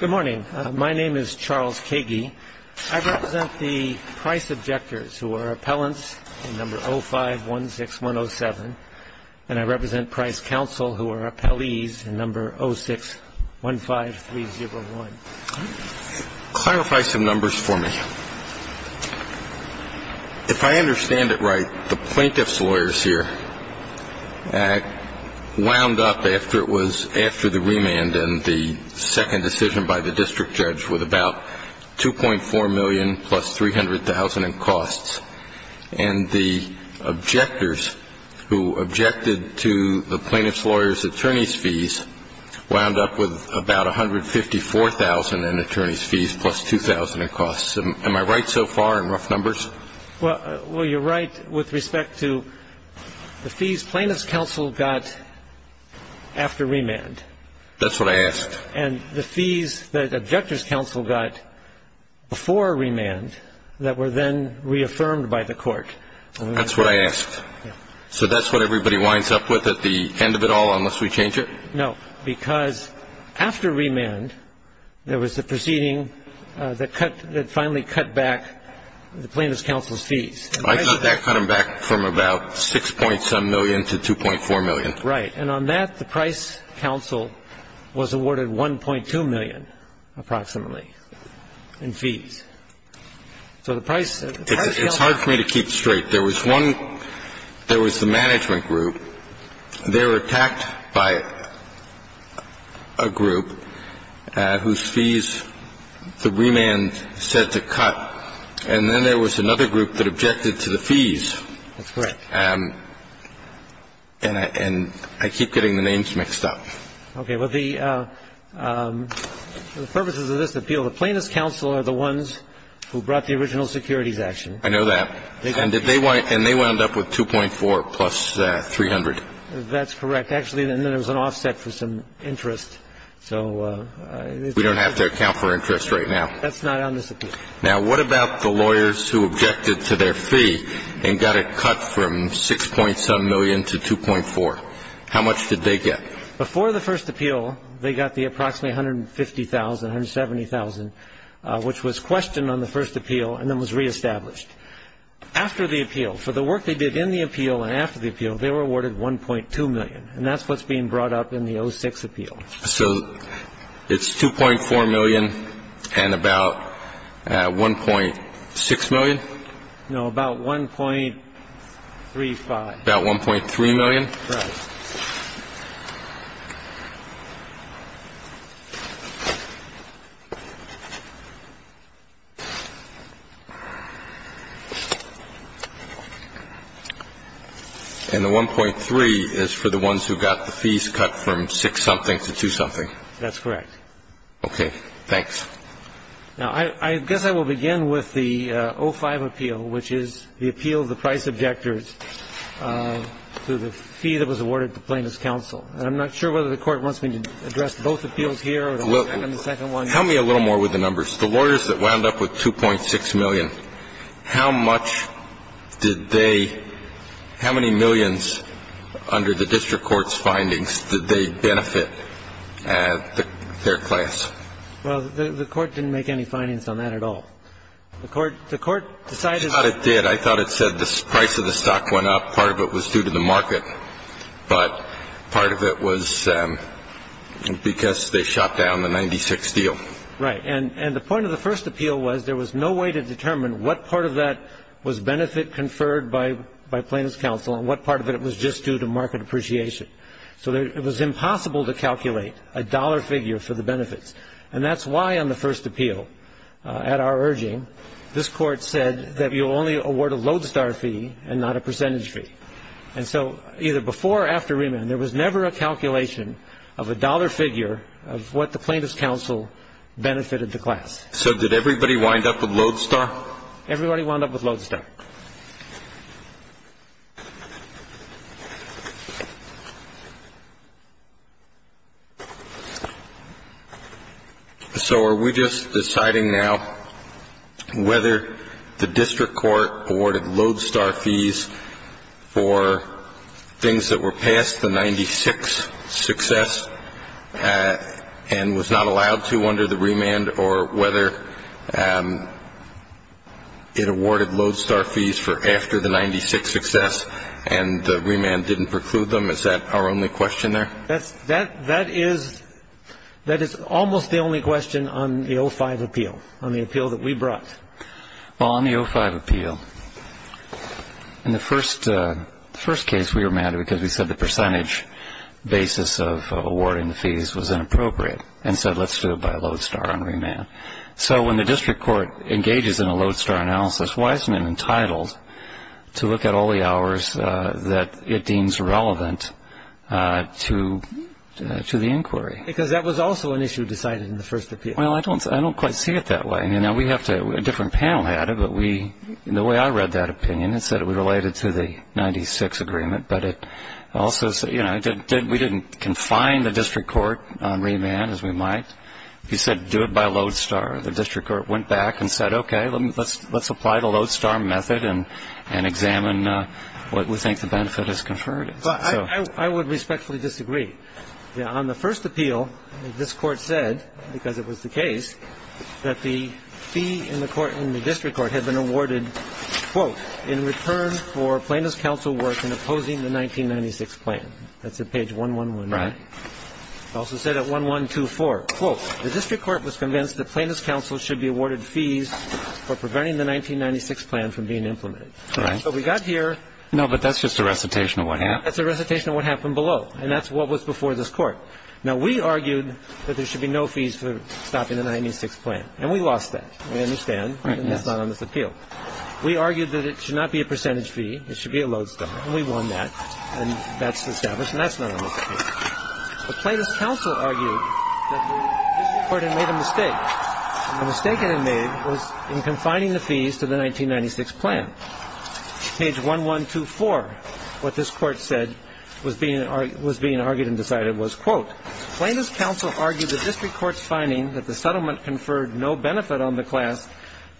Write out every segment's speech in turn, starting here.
Good morning. My name is Charles Kagey. I represent the Price Objectors, who are appellants in No. 0516107, and I represent Price Counsel, who are appellees in No. 0615301. Clarify some numbers for me. If I understand it right, the plaintiff's lawyers here wound up after it was after the remand and the second decision by the district judge with about $2.4 million plus $300,000 in costs, and the objectors, who objected to the plaintiff's lawyers' attorney's fees, wound up with about $154,000 in attorney's fees plus $2,000 in costs. Am I right so far in rough numbers? Well, you're right with respect to the fees plaintiff's counsel got after remand. That's what I asked. And the fees that objectors' counsel got before remand that were then reaffirmed by the court. That's what I asked. So that's what everybody winds up with at the end of it all, unless we change it? No, because after remand, there was the proceeding that finally cut back the plaintiff's counsel's fees. I thought that cut them back from about $6.7 million to $2.4 million. Right. And on that, the price counsel was awarded $1.2 million, approximately, in fees. So the price counsel... It's hard for me to keep straight. There was one – there was the management group. They were attacked by a group whose fees the remand said to cut. And then there was another group that objected to the fees. That's right. And I keep getting the names mixed up. Okay. Well, the purposes of this appeal, the plaintiff's counsel are the ones who brought the original securities action. I know that. And they wound up with $2.4 plus $300. That's correct. Actually, and then there was an offset for some interest. So... We don't have to account for interest right now. That's not on this appeal. Now, what about the lawyers who objected to their fee and got it cut from $6.7 million to $2.4? How much did they get? Before the first appeal, they got the approximately $150,000, $170,000, which was questioned on the first appeal and then was reestablished. After the appeal, for the work they did in the appeal and after the appeal, they were awarded $1.2 million. And that's what's being brought up in the 06 appeal. So it's $2.4 million and about $1.6 million? No, about $1.35. About $1.3 million? Correct. And the $1.3 million is for the ones who got the fees cut from $6 something to $2 something? That's correct. Okay. Thanks. Now, I guess I will begin with the 05 appeal, which is the appeal of the price objectors to the fee that was awarded to Plaintiffs' Counsel. And I'm not sure whether the Court wants me to address both appeals here or the second one. Help me a little more with the numbers. The lawyers that wound up with $2.6 million, how much did they – how many millions under the district court's findings did they benefit their class? Well, the Court didn't make any findings on that at all. The Court decided – I thought it did. I thought it said the price of the stock went up. Part of it was due to the market, but part of it was because they shot down the 96 deal. Right. And the point of the first appeal was there was no way to determine what part of that was benefit conferred by Plaintiffs' Counsel and what part of it was just due to market appreciation. So it was impossible to calculate a dollar figure for the benefits. And that's why on the first appeal, at our urging, this Court said that you'll only award a lodestar fee and not a percentage fee. And so either before or after remand, there was never a calculation of a dollar figure of what the Plaintiffs' Counsel benefited the class. So did everybody wind up with lodestar? Everybody wound up with lodestar. All right. So are we just deciding now whether the district court awarded lodestar fees for things that were past the 96 success and was not allowed to under the remand or whether it awarded lodestar fees for after the 96 success and the remand didn't preclude them? Is that our only question there? That is almost the only question on the 05 appeal, on the appeal that we brought. Well, on the 05 appeal, in the first case, we were mad because we said the percentage basis of awarding the fees was inappropriate and said let's do it by lodestar on remand. So when the district court engages in a lodestar analysis, why isn't it entitled to look at all the hours that it deems relevant to the inquiry? Because that was also an issue decided in the first appeal. Well, I don't quite see it that way. I mean, now we have to, a different panel had it, but we, the way I read that opinion, it said it was related to the 96 agreement, but it also said, you know, we didn't confine the district court on remand as we might. You said do it by lodestar. The district court went back and said, okay, let's apply the lodestar method and examine what we think the benefit has conferred. I would respectfully disagree. On the first appeal, this Court said, because it was the case, that the fee in the court, in the district court had been awarded, quote, in return for plaintiff's counsel work in opposing the 1996 plan. That's at page 1119. Right. It also said at 1124, quote, the district court was convinced that plaintiff's counsel should be awarded fees for preventing the 1996 plan from being implemented. Right. So we got here. No, but that's just a recitation of what happened. That's a recitation of what happened below, and that's what was before this Court. Now, we argued that there should be no fees for stopping the 1996 plan, and we lost that. We understand. Right. And that's not on this appeal. We argued that it should not be a percentage fee. It should be a lodestar, and we won that. And that's established, and that's not on this appeal. The plaintiff's counsel argued that the district court had made a mistake, and the mistake it had made was in confining the fees to the 1996 plan. Page 1124, what this Court said was being argued and decided was, quote, plaintiff's counsel argued the district court's finding that the settlement conferred no benefit on the class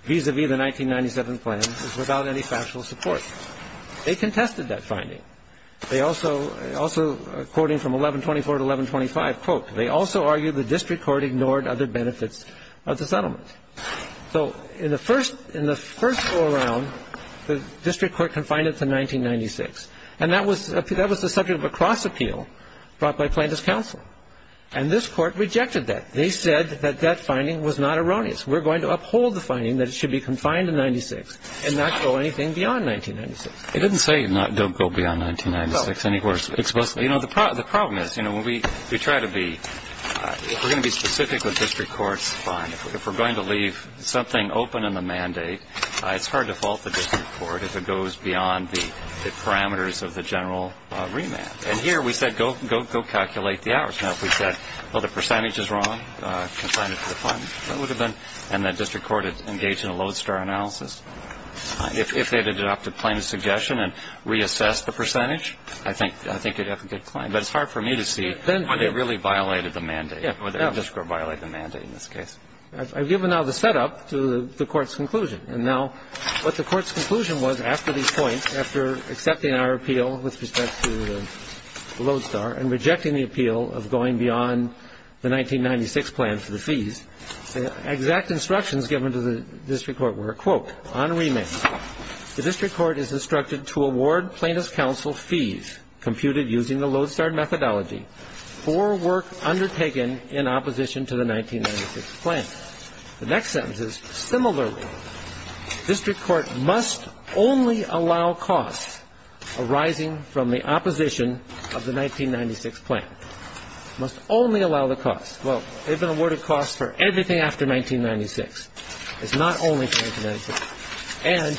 vis-à-vis the 1997 plan was without any factual support. They contested that finding. They also, quoting from 1124 to 1125, quote, they also argued the district court ignored other benefits of the settlement. So in the first go-around, the district court confined it to 1996, and that was the subject of a cross-appeal brought by plaintiff's counsel. And this Court rejected that. They said that that finding was not erroneous. We're going to uphold the finding that it should be confined to 1996 and not go anything beyond 1996. It didn't say don't go beyond 1996 anywhere explicitly. Well, you know, the problem is, you know, when we try to be – if we're going to be specific with district courts, fine. If we're going to leave something open in the mandate, it's hard to fault the district court if it goes beyond the parameters of the general remand. And here we said go calculate the hours. Now, if we said, well, the percentage is wrong, confine it to the finding, that would have been – and the district court engaged in a lodestar analysis. If they had adopted plaintiff's suggestion and reassessed the percentage, I think you'd have a good claim. But it's hard for me to see whether they really violated the mandate, or the district court violated the mandate in this case. I've given now the setup to the Court's conclusion. And now what the Court's conclusion was after these points, after accepting our appeal with respect to the lodestar and rejecting the appeal of going beyond the 1996 plan for the fees, the exact instructions given to the district court were, quote, on remand, the district court is instructed to award plaintiff's counsel fees computed using the lodestar methodology for work undertaken in opposition to the 1996 plan. The next sentence is, similarly, district court must only allow costs arising from the opposition of the 1996 plan. Must only allow the costs. Well, they've been awarded costs for everything after 1996. It's not only for 1996. And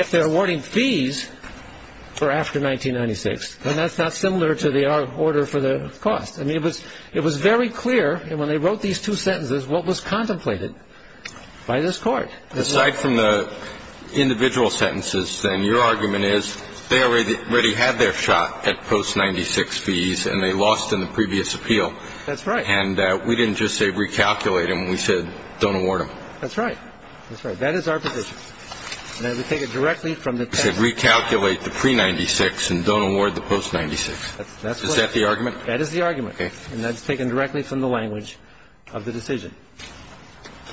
if they're awarding fees for after 1996, then that's not similar to the order for the cost. I mean, it was very clear when they wrote these two sentences what was contemplated by this Court. Aside from the individual sentences, then, your argument is they already had their shot at post-96 fees, and they lost in the previous appeal. That's right. And we didn't just say recalculate them. We said don't award them. That's right. That is our position. And we take it directly from the text. You said recalculate the pre-'96 and don't award the post-'96. Is that the argument? That is the argument. Okay. And that's taken directly from the language of the decision.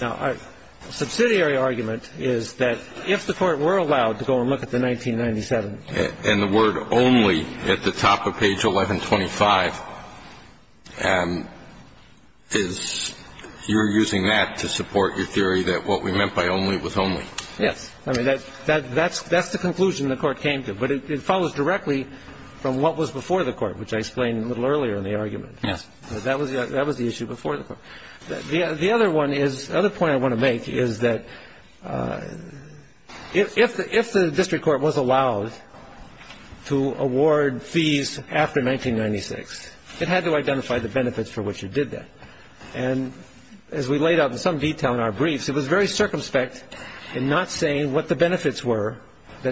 Now, our subsidiary argument is that if the Court were allowed to go and look at the 1997. And the word only at the top of page 1125 is you're using that to support your theory that what we meant by only was only. Yes. I mean, that's the conclusion the Court came to. But it follows directly from what was before the Court, which I explained a little earlier in the argument. Yes. That was the issue before the Court. The other one is the other point I want to make is that if the district court was allowed to award fees after 1996, it had to identify the benefits for which it did that. And as we laid out in some detail in our briefs, it was very circumspect in not saying what the benefits were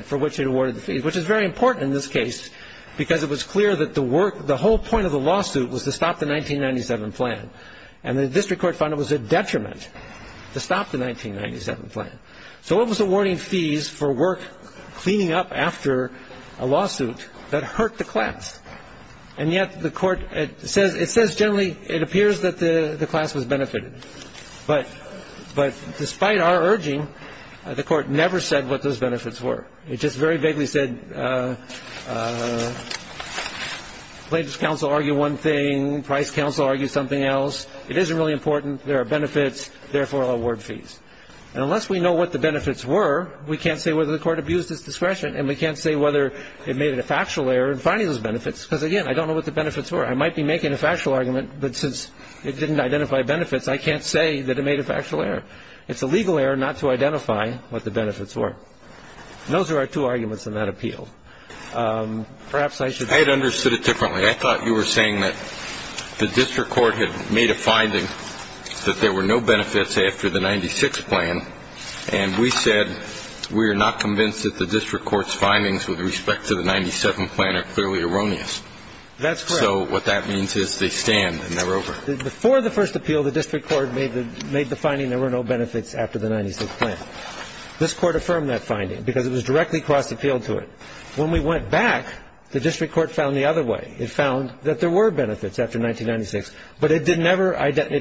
for which it awarded the fees, which is very important in this case because it was clear that the whole point of the lawsuit was to stop the 1997 plan. And the district court found it was a detriment to stop the 1997 plan. So it was awarding fees for work cleaning up after a lawsuit that hurt the class. And yet the Court says it says generally it appears that the class was benefited. But despite our urging, the Court never said what those benefits were. It just very vaguely said plaintiffs' counsel argue one thing, price counsel argue something else. It isn't really important. There are benefits. Therefore, award fees. And unless we know what the benefits were, we can't say whether the Court abused its discretion, and we can't say whether it made it a factual error in finding those benefits because, again, I don't know what the benefits were. I might be making a factual argument, but since it didn't identify benefits, I can't say that it made a factual error. It's a legal error not to identify what the benefits were. And those are our two arguments in that appeal. Perhaps I should go on. I had understood it differently. I thought you were saying that the district court had made a finding that there were no benefits after the 1996 plan, and we said we are not convinced that the district court's findings with respect to the 1997 plan are clearly erroneous. That's correct. So what that means is they stand and they're over. Before the first appeal, the district court made the finding there were no benefits after the 1996 plan. This Court affirmed that finding because it was directly across the field to it. When we went back, the district court found the other way. It found that there were benefits after 1996, but it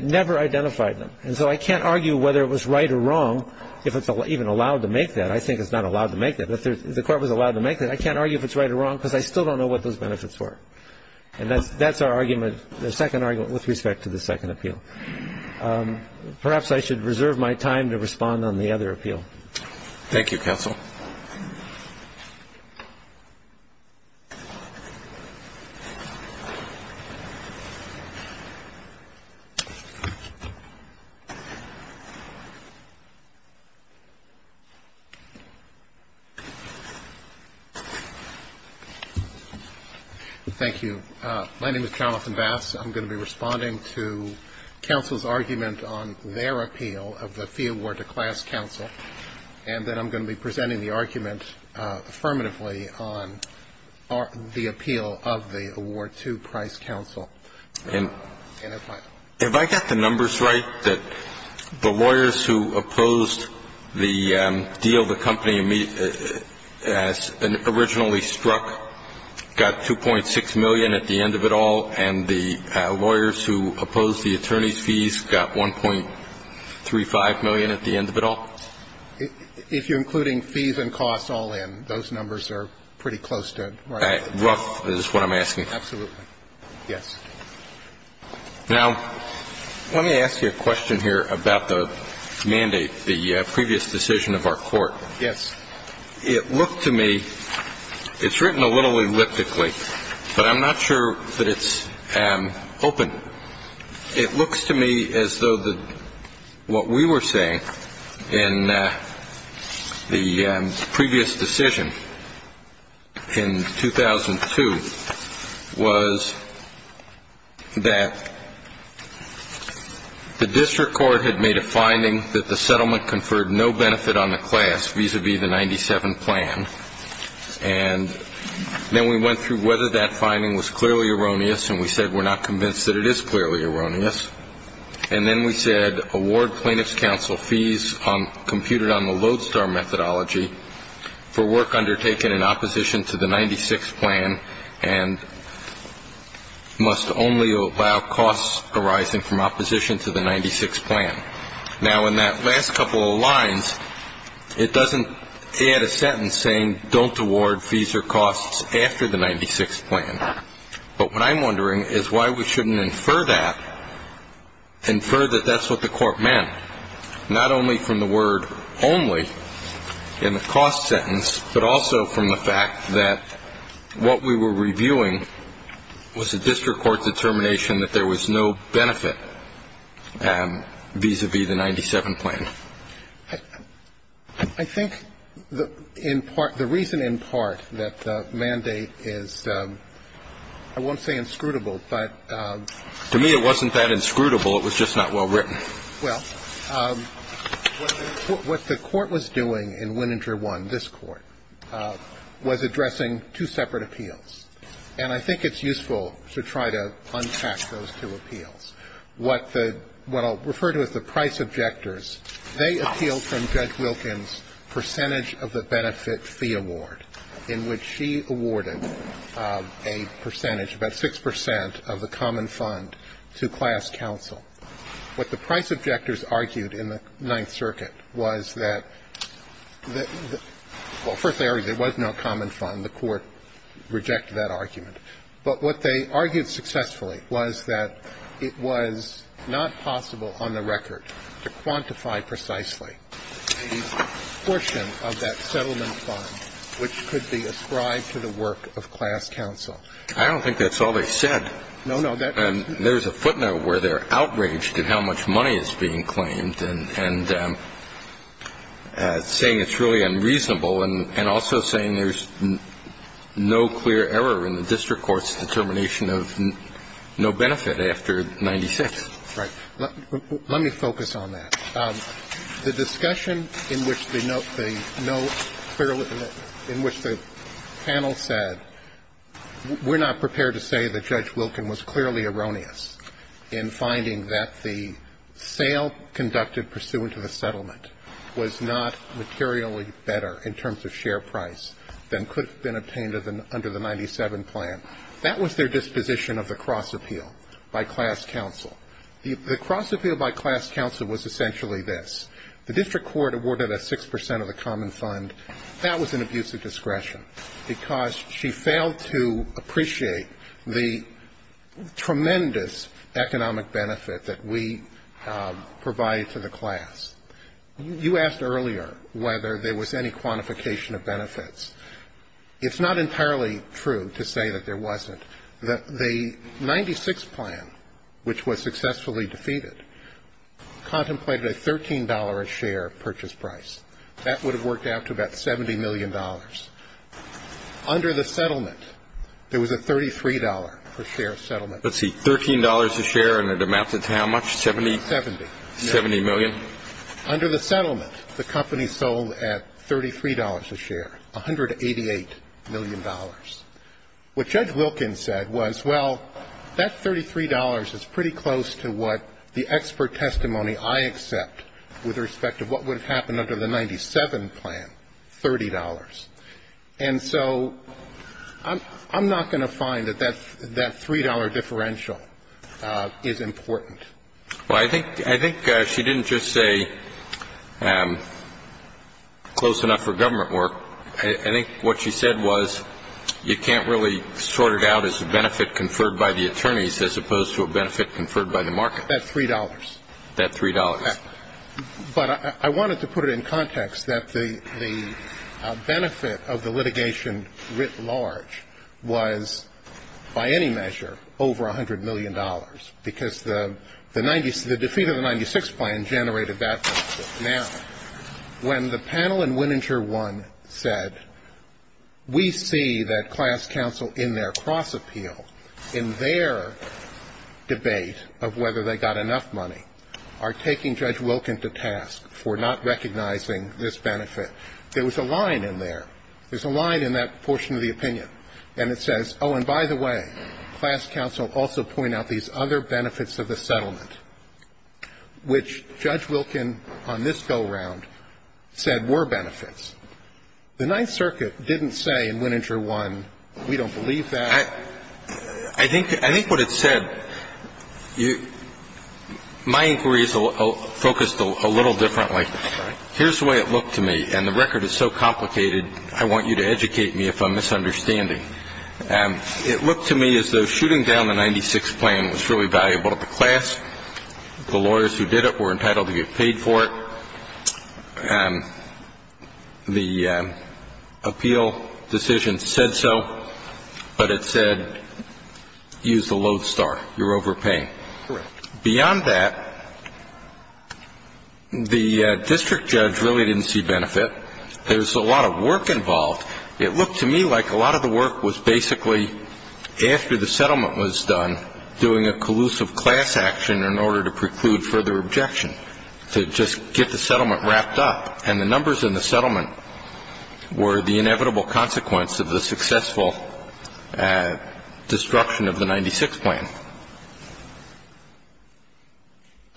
never identified them. And so I can't argue whether it was right or wrong, if it's even allowed to make that. I think it's not allowed to make that. If the Court was allowed to make that, I can't argue if it's right or wrong because I still don't know what those benefits were. And that's our argument, the second argument with respect to the second appeal. Perhaps I should reserve my time to respond on the other appeal. Thank you, counsel. Thank you. My name is Jonathan Bass. I'm going to be responding to counsel's argument on their appeal of the fee award to class counsel. And then I'm going to be presenting the argument affirmatively on the appeal of the award to price counsel. And if I get the numbers right, that the lawyers who opposed the deal, the company originally struck got $2.6 million at the end of it all, and the lawyers who opposed the attorney's fees got $1.35 million at the end of it all? If you're including fees and costs all in, those numbers are pretty close to right? Rough is what I'm asking. Absolutely. Yes. Now, let me ask you a question here about the mandate, the previous decision of our court. Yes. It looked to me, it's written a little elliptically, but I'm not sure that it's open. It looks to me as though what we were saying in the previous decision in 2002 was that the district court had made a finding that the And then we went through whether that finding was clearly erroneous, and we said we're not convinced that it is clearly erroneous. And then we said award plaintiff's counsel fees computed on the Lodestar methodology for work undertaken in opposition to the 96 plan and must only allow costs arising from opposition to the 96 plan. Now, in that last couple of lines, it doesn't add a sentence saying don't award fees or costs after the 96 plan. But what I'm wondering is why we shouldn't infer that, infer that that's what the court meant, not only from the word only in the cost sentence, but also from the fact that what we were reviewing was a district court determination that there was no benefit vis-à-vis the 97 plan. I think the reason in part that the mandate is, I won't say inscrutable, but To me it wasn't that inscrutable. It was just not well written. Well, what the court was doing in Wininger 1, this court, was addressing two separate appeals. And I think it's useful to try to unpack those two appeals. What the – what I'll refer to as the price objectors, they appealed from Judge Wilkins' percentage of the benefit fee award, in which she awarded a percentage, about 6 percent, of the common fund to class counsel. What the price objectors argued in the Ninth Circuit was that the – well, first, there was no common fund. The court rejected that argument. But what they argued successfully was that it was not possible on the record to quantify precisely the portion of that settlement fund which could be ascribed to the work of class counsel. I don't think that's all they said. No, no. And there's a footnote where they're outraged at how much money is being claimed and saying it's really unreasonable and also saying there's no clear error in the district court's determination of no benefit after 96. Right. Let me focus on that. The discussion in which the panel said, we're not prepared to say that Judge Wilkins was clearly erroneous in finding that the sale conducted pursuant to the settlement was not materially better in terms of share price than could have been obtained under the 97 plan. That was their disposition of the cross appeal by class counsel. The cross appeal by class counsel was essentially this. The district court awarded a 6 percent of the common fund. That was an abuse of discretion because she failed to appreciate the tremendous economic benefit that we provided for the class. You asked earlier whether there was any quantification of benefits. It's not entirely true to say that there wasn't. The 96 plan, which was successfully defeated, contemplated a $13 a share purchase price. That would have worked out to about $70 million. Under the settlement, there was a $33 per share settlement. Let's see. $13 a share and it amounted to how much? 70? 70. 70 million? Under the settlement, the company sold at $33 a share, $188 million. What Judge Wilkins said was, well, that $33 is pretty close to what the expert testimony I accept with respect to what would have happened under the 97 plan, $30. And so I'm not going to find that that $3 differential is important. Well, I think she didn't just say close enough for government work. I think what she said was you can't really sort it out as a benefit conferred by the attorneys as opposed to a benefit conferred by the market. That $3. That $3. But I wanted to put it in context that the benefit of the litigation writ large was, by any measure, over $100 million, because the 90s the defeat of the 96 plan generated that benefit. Now, when the panel in Winninger 1 said, we see that class counsel in their cross appeal, in their debate of whether they got enough money, are taking Judge Wilkins to task for not recognizing this benefit, there was a line in there. There's a line in that portion of the opinion. And it says, oh, and by the way, class counsel also point out these other benefits of the settlement, which Judge Wilkins on this go-around said were benefits. The Ninth Circuit didn't say in Winninger 1, we don't believe that. I think what it said, my inquiry is focused a little differently. Here's the way it looked to me. And the record is so complicated, I want you to educate me if I'm misunderstanding. It looked to me as though shooting down the 96 plan was really valuable to the class. The lawyers who did it were entitled to get paid for it. The appeal decision said so, but it said, use the loathe star. You're overpaying. Correct. Beyond that, the district judge really didn't see benefit. There's a lot of work involved. It looked to me like a lot of the work was basically, after the settlement was done, doing a collusive class action in order to preclude further objection, to just get the settlement wrapped up. And the numbers in the settlement were the inevitable consequence of the successful destruction of the 96 plan.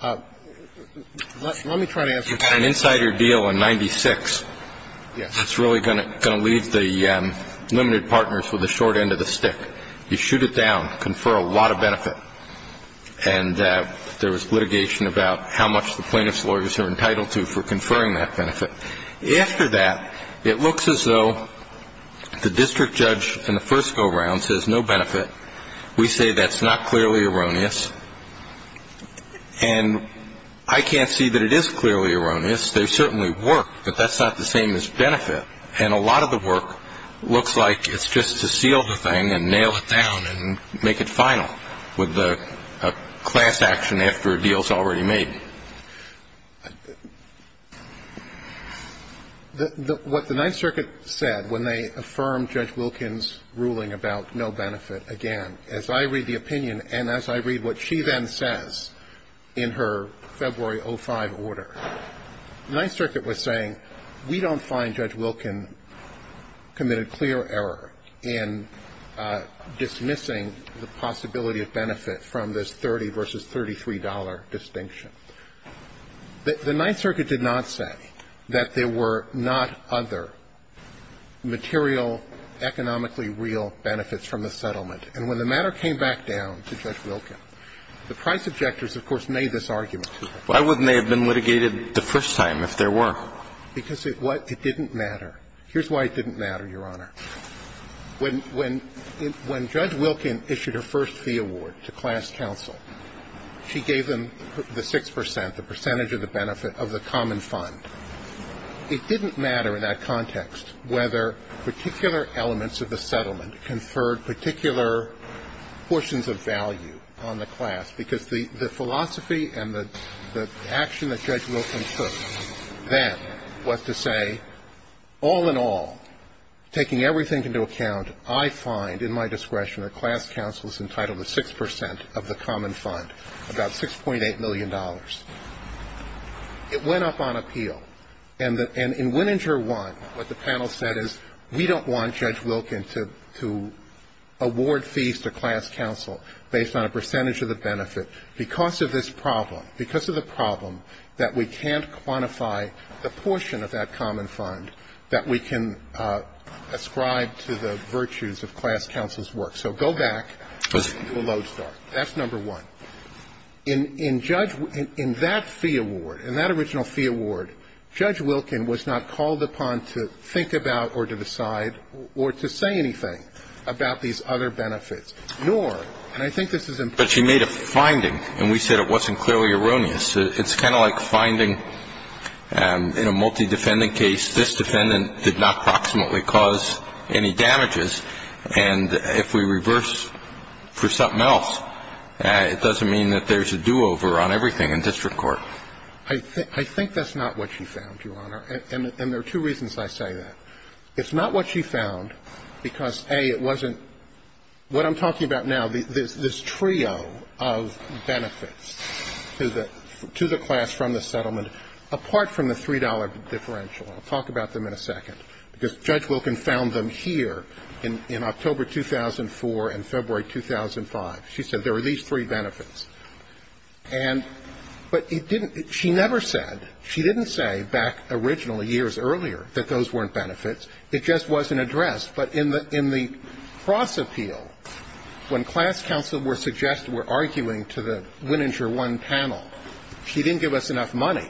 Let me try to answer that. The insider deal in 96, it's really going to leave the limited partners with a short end of the stick. You shoot it down, confer a lot of benefit. And there was litigation about how much the plaintiff's lawyers are entitled to for conferring that benefit. After that, it looks as though the district judge in the first go-around says no benefit. We say that's not clearly erroneous. And I can't see that it is clearly erroneous. There's certainly work, but that's not the same as benefit. And a lot of the work looks like it's just to seal the thing and nail it down and make it final with a class action after a deal is already made. What the Ninth Circuit said when they affirmed Judge Wilkin's ruling about no benefit again, as I read the opinion and as I read what she then says in her February 05 order, the Ninth Circuit was saying we don't find Judge Wilkin committed clear error in dismissing the possibility of benefit from this $30 versus $33 distinction. The Ninth Circuit did not say that there were not other material economically real benefits from the settlement. And when the matter came back down to Judge Wilkin, the price objectors, of course, made this argument. Why wouldn't they have been litigated the first time if there were? Because it didn't matter. Here's why it didn't matter, Your Honor. When Judge Wilkin issued her first fee award to class counsel, she gave them the 6 percent, the percentage of the benefit of the common fund. It didn't matter in that context whether particular elements of the settlement conferred particular portions of value on the class, because the philosophy and the action that Judge Wilkin took then was to say, all in all, taking everything into account, I find in my discretion that class counsel is entitled to 6 percent of the common fund, about $6.8 million. It went up on appeal. And in Wininger 1, what the panel said is, we don't want Judge Wilkin to award fees to class counsel based on a percentage of the benefit because of this problem, because of the problem that we can't quantify the portion of that common fund that we can ascribe to the virtues of class counsel's work. So go back to the lodestar. That's number one. In that fee award, in that original fee award, Judge Wilkin was not called upon to think about or to decide or to say anything about these other benefits, nor, and I think this is important. But she made a finding, and we said it wasn't clearly erroneous. It's kind of like finding in a multi-defendant case, this defendant did not proximately cause any damages. And if we reverse for something else, it doesn't mean that there's a do-over on everything in district court. I think that's not what she found, Your Honor. And there are two reasons I say that. It's not what she found because, A, it wasn't what I'm talking about now, this trio of benefits to the class from the settlement, apart from the $3 differential. I'll talk about them in a second. But it's not what she found. Because Judge Wilkin found them here in October 2004 and February 2005. She said there were these three benefits. And, but it didn't, she never said, she didn't say back originally, years earlier, that those weren't benefits. It just wasn't addressed. But in the cross appeal, when class counsel were suggested, were arguing to the Winninger 1 panel, she didn't give us enough money.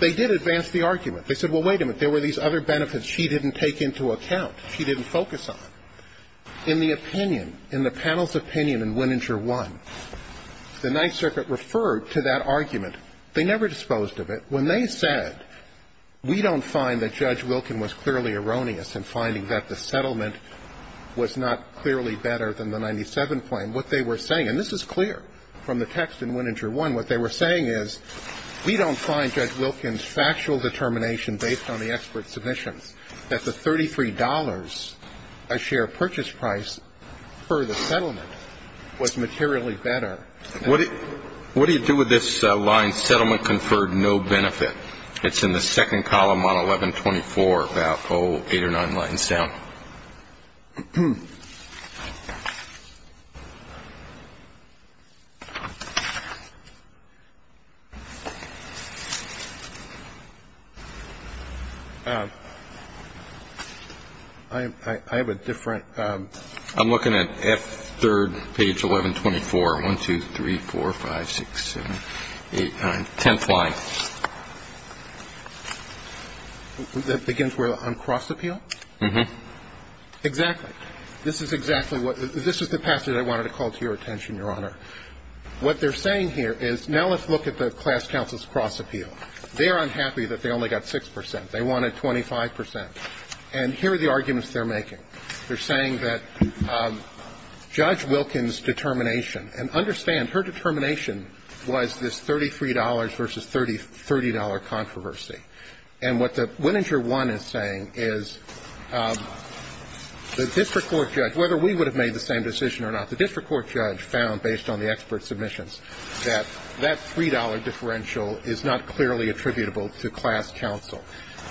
They did advance the argument. They said, well, wait a minute, there were these other benefits she didn't take into account, she didn't focus on. In the opinion, in the panel's opinion in Winninger 1, the Ninth Circuit referred to that argument. They never disposed of it. When they said, we don't find that Judge Wilkin was clearly erroneous in finding that the settlement was not clearly better than the 97 claim, what they were saying and this is clear from the text in Winninger 1, what they were saying is, we don't find Judge Wilkin's factual determination based on the expert submissions that the $33 a share purchase price for the settlement was materially better. What do you do with this line, settlement conferred no benefit? It's in the second column on 1124, about eight or nine lines down. I have a different. I'm looking at F3, page 1124, 1, 2, 3, 4, 5, 6, 7, 8, 9, 10th line. That begins where, on cross appeal? Exactly. This is exactly what, this is the passage I wanted to call to your attention, Your Honor. What they're saying here is, now let's look at the class counsel's cross appeal. They're unhappy that they only got 6 percent. They wanted 25 percent. And here are the arguments they're making. They're saying that Judge Wilkin's determination, and understand, her determination was this $33 versus $30 controversy. And what the Winninger 1 is saying is the district court judge, whether we would have made the same decision or not, the district court judge found, based on the expert submissions, that that $3 differential is not clearly attributable to class counsel.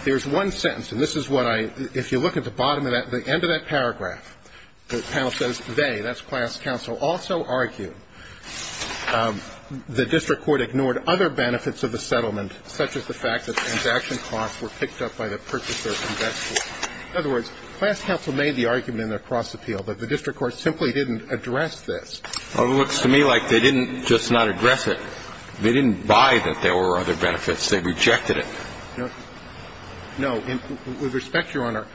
There's one sentence, and this is what I, if you look at the bottom of that, the end of that paragraph, the panel says, they, that's class counsel, also argue the district court ignored other benefits of the settlement, such as the fact that the transaction costs were picked up by the purchaser from that school. In other words, class counsel made the argument in their cross appeal that the district court simply didn't address this. Well, it looks to me like they didn't just not address it. They didn't buy that there were other benefits. They rejected it. No. With respect, Your Honor,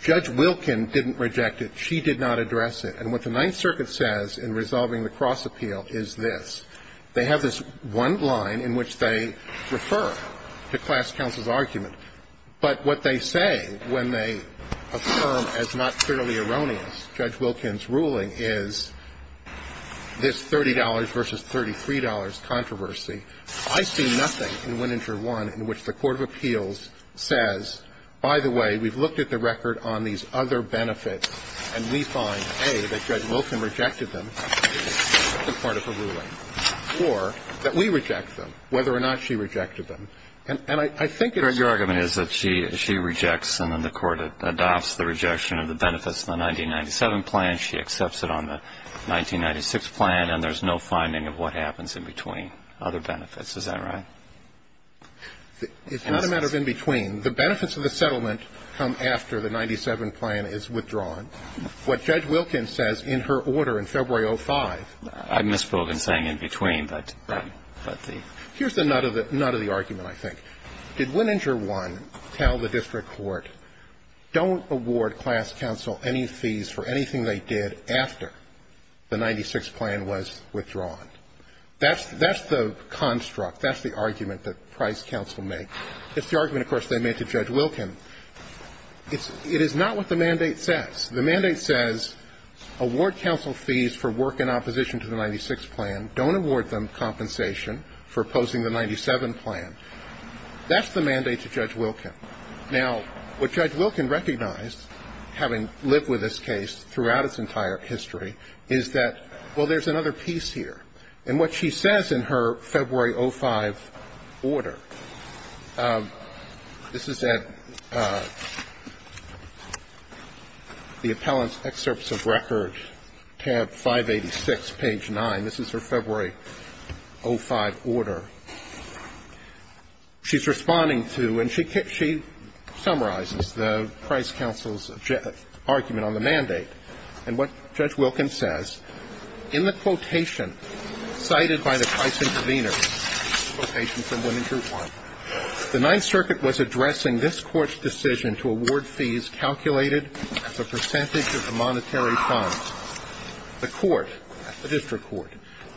Judge Wilkin didn't reject it. She did not address it. And what the Ninth Circuit says in resolving the cross appeal is this. They have this one line in which they refer to class counsel's argument. But what they say when they affirm as not clearly erroneous Judge Wilkin's ruling is this $30 versus $33 controversy. I see nothing in Wininger 1 in which the court of appeals says, by the way, we've looked at the record on these other benefits, and we find, A, that Judge Wilkin rejected them as part of her ruling, or that we reject them, whether or not she rejected them. And I think it's true. Your argument is that she, she rejects and then the court adopts the rejection of the benefits in the 1997 plan. She accepts it on the 1996 plan, and there's no finding of what happens in between other benefits. Is that right? It's not a matter of in between. The benefits of the settlement come after the 97 plan is withdrawn. What Judge Wilkin says in her order in February of 2005. I misspoke in saying in between, but the. Here's the nut of the argument, I think. Did Wininger 1 tell the district court, don't award class counsel any fees for anything they did after the 96 plan was withdrawn? That's, that's the construct, that's the argument that Price counsel makes. It's the argument, of course, they made to Judge Wilkin. It's, it is not what the mandate says. The mandate says, award counsel fees for work in opposition to the 96 plan. Don't award them compensation for opposing the 97 plan. That's the mandate to Judge Wilkin. Now, what Judge Wilkin recognized, having lived with this case throughout its entire history, is that, well, there's another piece here. In what she says in her February 2005 order, this is at the appellant's excerpts of record, tab 586, page 9. This is her February 2005 order. She's responding to, and she summarizes the Price counsel's argument on the mandate. And what Judge Wilkin says, in the quotation cited by the Price intervener, quotation from Wininger 1, the Ninth Circuit was addressing this court's decision to award fees calculated as a percentage of the monetary funds. The court, the district court,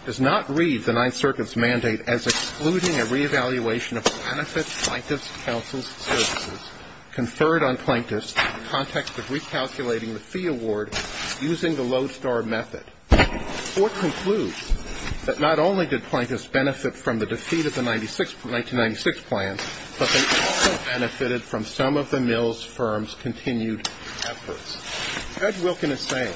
does not read the Ninth Circuit's mandate as excluding a reevaluation of benefits plaintiff's counsel's services conferred on plaintiffs in the context of recalculating the fee award using the lodestar method. The court concludes that not only did plaintiffs benefit from the defeat of the 1996 plan, but they also benefited from some of the mills firm's continued efforts. Judge Wilkin is saying,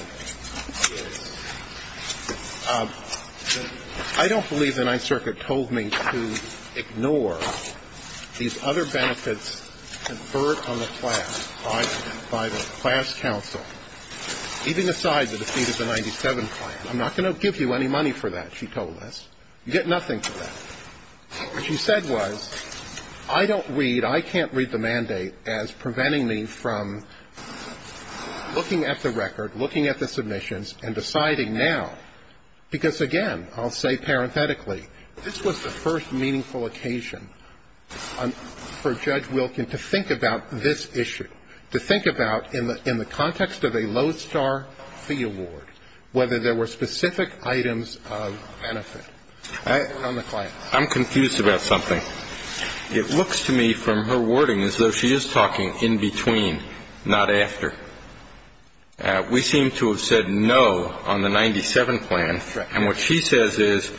I don't believe the Ninth Circuit told me to ignore these other benefits conferred on the class by the class counsel, even aside the defeat of the 1997 plan. I'm not going to give you any money for that, she told us. You get nothing for that. What she said was, I don't read, I can't read the mandate as preventing me from looking at the record, looking at the submissions, and deciding now. Because, again, I'll say parenthetically, this was the first meaningful occasion for Judge Wilkin to think about this issue, to think about, in the context of a lodestar fee award, whether there were specific items of benefit on the class. I'm confused about something. It looks to me from her wording as though she is talking in between, not after. We seem to have said no on the 1997 plan, and what she says is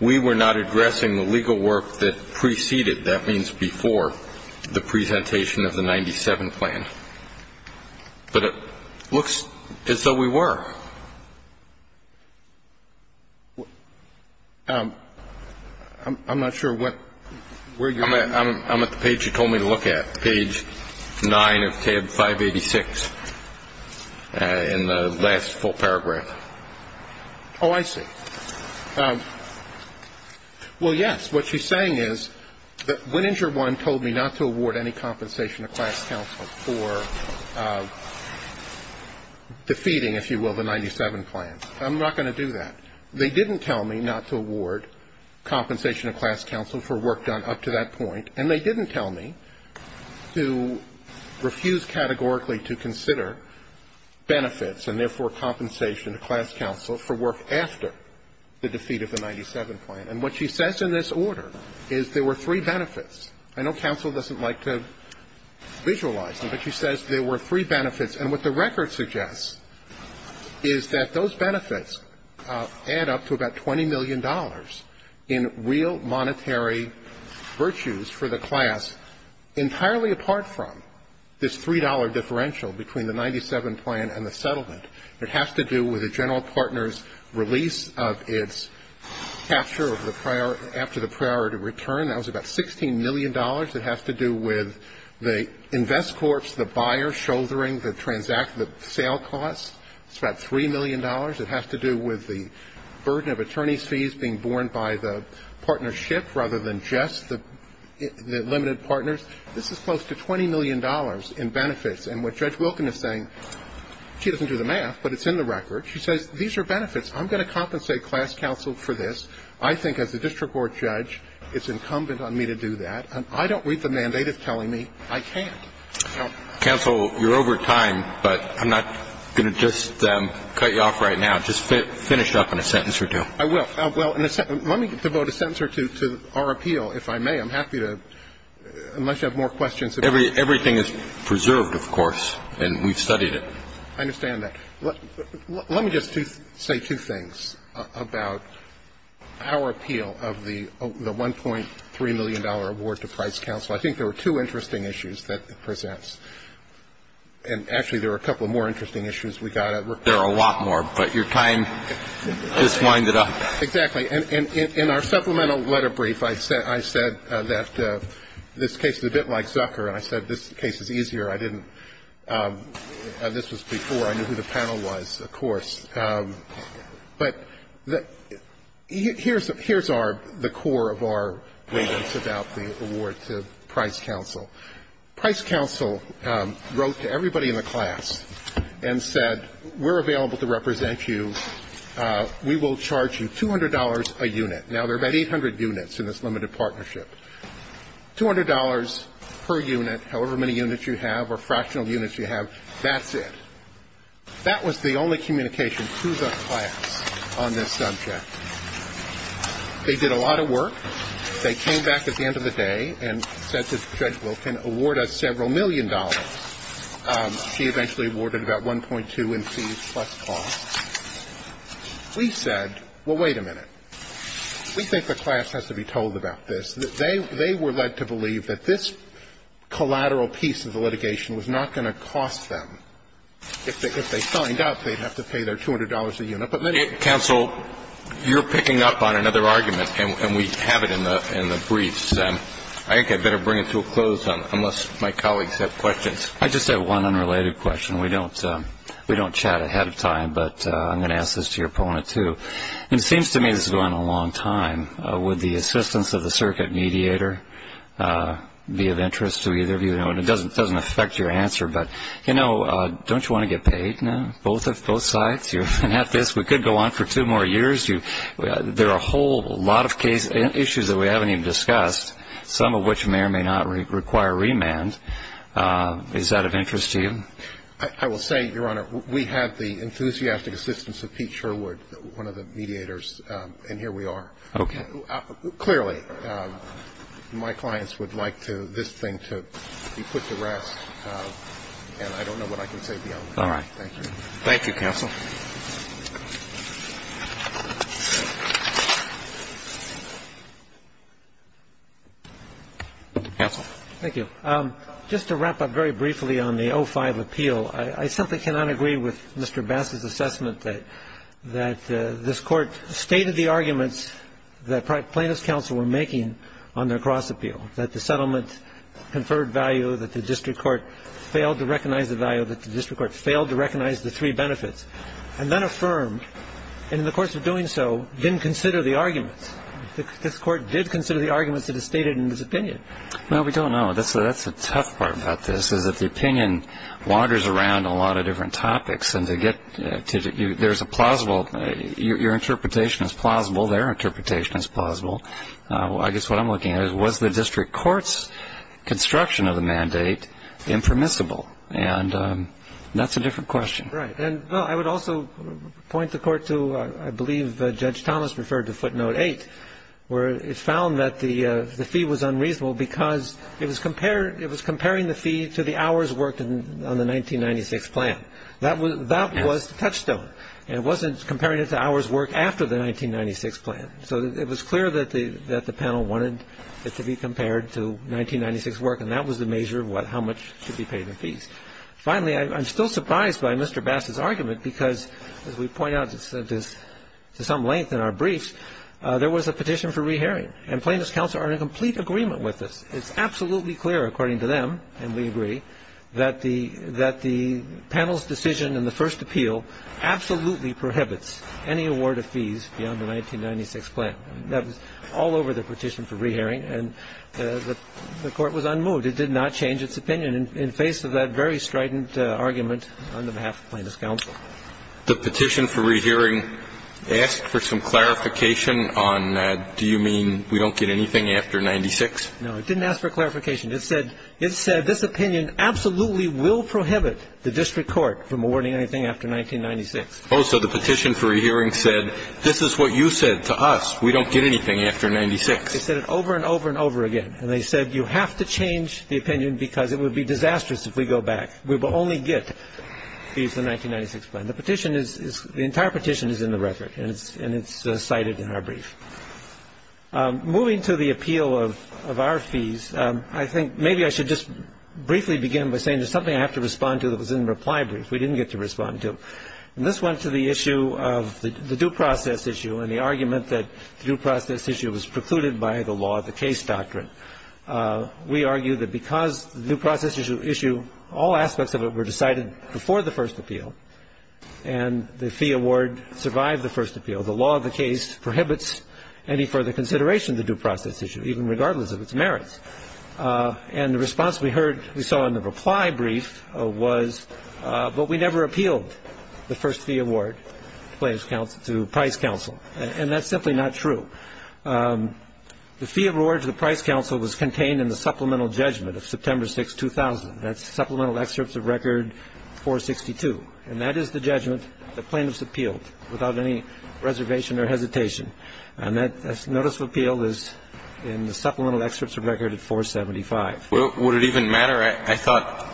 we were not addressing the legal work that preceded, that means before, the presentation of the 1997 plan. But it looks as though we were. I'm not sure where you're going. I'm at the page you told me to look at, page 9 of tab 586, in the last full paragraph. Oh, I see. Well, yes, what she's saying is that Winninger I told me not to award any compensation to class counsel for defeating, if you will, the 1997 plan. I'm not going to do that. They didn't tell me not to award compensation to class counsel for work done up to that point, and they didn't tell me to refuse categorically to consider benefits and, therefore, And what she says in this order is there were three benefits. I know counsel doesn't like to visualize them, but she says there were three benefits, and what the record suggests is that those benefits add up to about $20 million in real monetary virtues for the class entirely apart from this $3 differential between the 1997 plan and the settlement. It has to do with a general partner's release of its capture after the priority return. That was about $16 million. It has to do with the invest corpse, the buyer shouldering the sale costs. It's about $3 million. It has to do with the burden of attorneys' fees being borne by the partnership rather than just the limited partners. This is close to $20 million in benefits, and what Judge Wilkin is saying, she doesn't do the math, but it's in the record. She says these are benefits. I'm going to compensate class counsel for this. I think as a district court judge it's incumbent on me to do that, and I don't read the mandate as telling me I can't. Counsel, you're over time, but I'm not going to just cut you off right now. Just finish up in a sentence or two. I will. Well, let me devote a sentence or two to our appeal, if I may. I'm happy to, unless you have more questions. Everything is preserved, of course, and we've studied it. I understand that. Let me just say two things about our appeal of the $1.3 million award to Price Counsel. I think there were two interesting issues that it presents. And, actually, there were a couple of more interesting issues we got. There are a lot more, but your time just winded up. Exactly. And in our supplemental letter brief, I said that this case is a bit like Zucker and I said this case is easier. I didn't – this was before I knew who the panel was, of course. But here's our – the core of our ratings about the award to Price Counsel. Price Counsel wrote to everybody in the class and said, We're available to represent you. We will charge you $200 a unit. Now, there are about 800 units in this limited partnership. $200 per unit, however many units you have or fractional units you have, that's it. That was the only communication to the class on this subject. They did a lot of work. They came back at the end of the day and said to Judge Wilkin, Award us several million dollars. She eventually awarded about $1.2 million in fees plus costs. We said, well, wait a minute. We think the class has to be told about this. They were led to believe that this collateral piece of the litigation was not going to cost them. If they signed up, they'd have to pay their $200 a unit. But then they didn't. Counsel, you're picking up on another argument, and we have it in the briefs. I think I'd better bring it to a close unless my colleagues have questions. I just have one unrelated question. We don't chat ahead of time, but I'm going to ask this to your opponent, too. It seems to me this has gone on a long time. Would the assistance of the circuit mediator be of interest to either of you? It doesn't affect your answer, but don't you want to get paid now, both sides? We could go on for two more years. There are a whole lot of issues that we haven't even discussed, some of which may or may not require remand. Is that of interest to you? I will say, Your Honor, we have the enthusiastic assistance of Pete Sherwood, one of the mediators, and here we are. Clearly, my clients would like this thing to be put to rest, and I don't know what I can say beyond that. Thank you. Thank you, counsel. Counsel. Thank you. Just to wrap up very briefly on the 05 appeal, I simply cannot agree with Mr. Bass's assessment that this Court stated the arguments that plaintiffs' counsel were making on their cross appeal, that the settlement conferred value, that the district court failed to recognize the three benefits, and then affirmed, and in the course of doing so, didn't consider the arguments. This Court did consider the arguments that it stated in its opinion. Well, we don't know. That's the tough part about this, is that the opinion wanders around a lot of different topics, and there's a plausible – your interpretation is plausible, their interpretation is plausible. I guess what I'm looking at is, was the district court's construction of the mandate impermissible? And that's a different question. Right. And I would also point the Court to, I believe, Judge Thomas referred to footnote 8, where it found that the fee was unreasonable because it was comparing the fee to the hours worked on the 1996 plan. That was the touchstone, and it wasn't comparing it to hours worked after the 1996 plan. So it was clear that the panel wanted it to be compared to 1996 work, and that was the measure of how much should be paid in fees. Finally, I'm still surprised by Mr. Bassett's argument because, as we point out to some length in our briefs, there was a petition for rehearing, and plaintiffs' counsel are in complete agreement with this. It's absolutely clear, according to them, and we agree, that the panel's decision in the first appeal absolutely prohibits any award of fees beyond the 1996 plan. That was all over the petition for rehearing, and the Court was unmoved. It did not change its opinion in face of that very strident argument on behalf of plaintiffs' counsel. The petition for rehearing asked for some clarification on do you mean we don't get anything after 1996? No, it didn't ask for clarification. It said this opinion absolutely will prohibit the district court from awarding anything after 1996. Oh, so the petition for rehearing said this is what you said to us. We don't get anything after 1996. They said it over and over and over again. And they said you have to change the opinion because it would be disastrous if we go back. We will only get fees in the 1996 plan. The petition is – the entire petition is in the record, and it's cited in our brief. Moving to the appeal of our fees, I think maybe I should just briefly begin by saying there's something I have to respond to that was in the reply brief we didn't get to respond to. And this went to the issue of the due process issue and the argument that the due process issue was precluded by the law of the case doctrine. We argue that because the due process issue, all aspects of it were decided before the first appeal and the fee award survived the first appeal, the law of the case prohibits any further consideration of the due process issue, even regardless of its merits. And the response we heard – we saw in the reply brief was, but we never appealed the first fee award to price counsel. And that's simply not true. The fee award to the price counsel was contained in the supplemental judgment of September 6, 2000. That's supplemental excerpts of record 462. And that is the judgment that plaintiffs appealed without any reservation or hesitation. And that notice of appeal is in the supplemental excerpts of record at 475. Would it even matter? I thought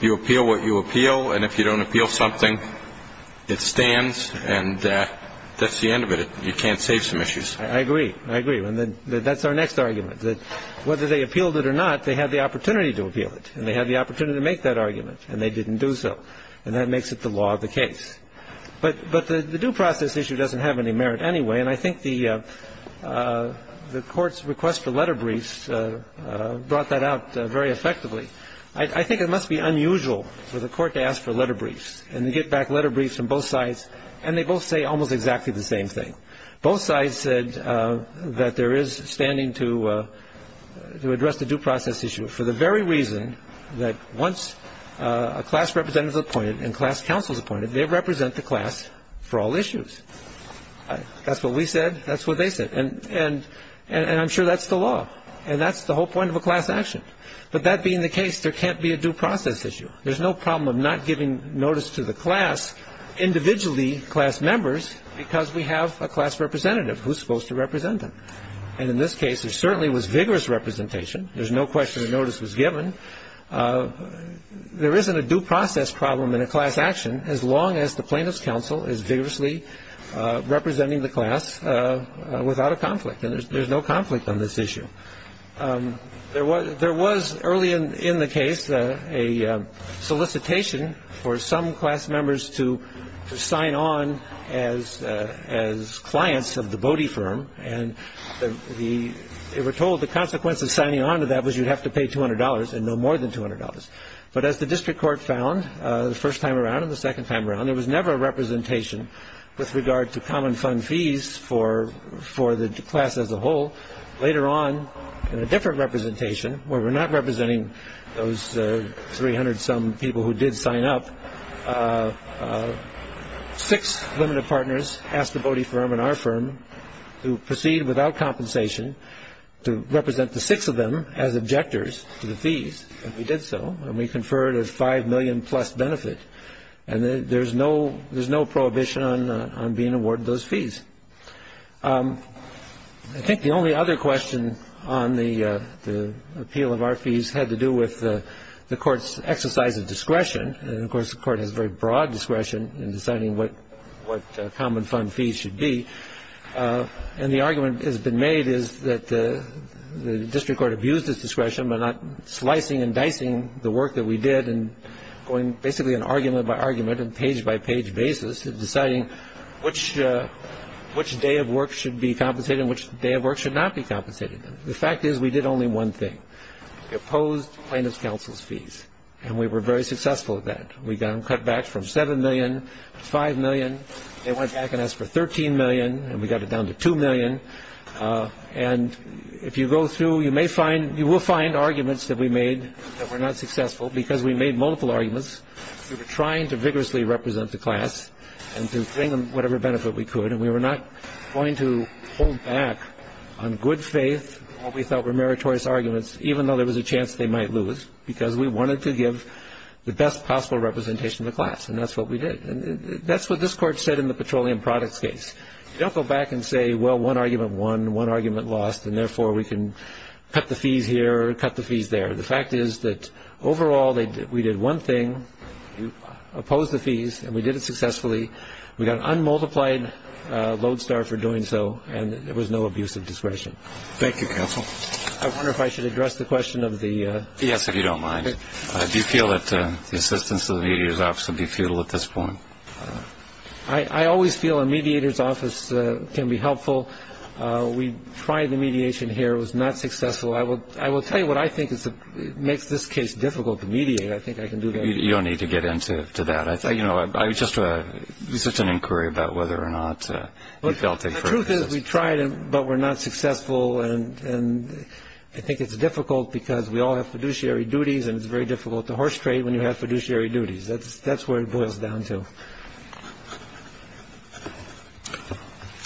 you appeal what you appeal. And if you don't appeal something, it stands. And that's the end of it. You can't save some issues. I agree. I agree. And that's our next argument, that whether they appealed it or not, they had the opportunity to appeal it. And they had the opportunity to make that argument. And they didn't do so. And that makes it the law of the case. But the due process issue doesn't have any merit anyway. And I think the Court's request for letter briefs brought that out very effectively. I think it must be unusual for the Court to ask for letter briefs and to get back letter briefs from both sides. And they both say almost exactly the same thing. Both sides said that there is standing to address the due process issue for the very reason that once a class representative is appointed and class counsel is appointed, they represent the class for all issues. That's what we said. That's what they said. And I'm sure that's the law. And that's the whole point of a class action. But that being the case, there can't be a due process issue. There's no problem of not giving notice to the class individually, class members, because we have a class representative who's supposed to represent them. And in this case, there certainly was vigorous representation. There's no question a notice was given. There isn't a due process problem in a class action, as long as the plaintiff's counsel is vigorously representing the class without a conflict. And there's no conflict on this issue. There was early in the case a solicitation for some class members to sign on as clients of the Bodie firm. And they were told the consequence of signing on to that was you'd have to pay $200. And no more than $200. But as the district court found the first time around and the second time around, there was never a representation with regard to common fund fees for the class as a whole. Later on, in a different representation where we're not representing those 300-some people who did sign up, six limited partners asked the Bodie firm and our firm to proceed without compensation to represent the six of them as objectors to the fees. And we did so. And we conferred a $5 million plus benefit. And there's no prohibition on being awarded those fees. I think the only other question on the appeal of our fees had to do with the court's exercise of discretion. And, of course, the court has very broad discretion in deciding what common fund fees should be. And the argument that has been made is that the district court abused its discretion by not slicing and dicing the work that we did and going basically argument by argument and page by page basis in deciding which day of work should be compensated and which day of work should not be compensated. The fact is we did only one thing. We opposed plaintiff's counsel's fees. And we were very successful at that. We got cutbacks from $7 million to $5 million. They went back and asked for $13 million. And we got it down to $2 million. And if you go through, you will find arguments that we made that were not successful because we made multiple arguments. We were trying to vigorously represent the class and to bring them whatever benefit we could. And we were not going to hold back on good faith what we thought were meritorious arguments, even though there was a chance they might lose, because we wanted to give the best possible representation of the class. And that's what we did. And that's what this Court said in the petroleum products case. You don't go back and say, well, one argument won, one argument lost, and therefore we can cut the fees here or cut the fees there. The fact is that overall we did one thing. We opposed the fees. And we did it successfully. We got an unmultiplied load star for doing so. And there was no abuse of discretion. Thank you, counsel. I wonder if I should address the question of the ---- Yes, if you don't mind. Do you feel that the assistance of the mediator's office would be futile at this point? I always feel a mediator's office can be helpful. We tried the mediation here. It was not successful. I will tell you what I think makes this case difficult to mediate. I think I can do better. You don't need to get into that. You know, it's just an inquiry about whether or not you felt it. The truth is we tried, but we're not successful. And I think it's difficult because we all have fiduciary duties, and it's very difficult to horse trade when you have fiduciary duties. That's where it boils down to.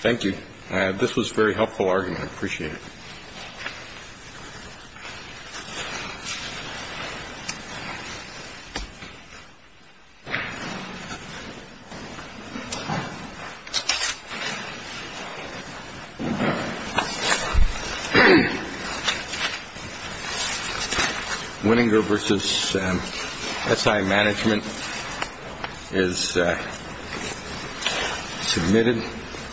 Thank you. This was a very helpful argument. I appreciate it. Thank you.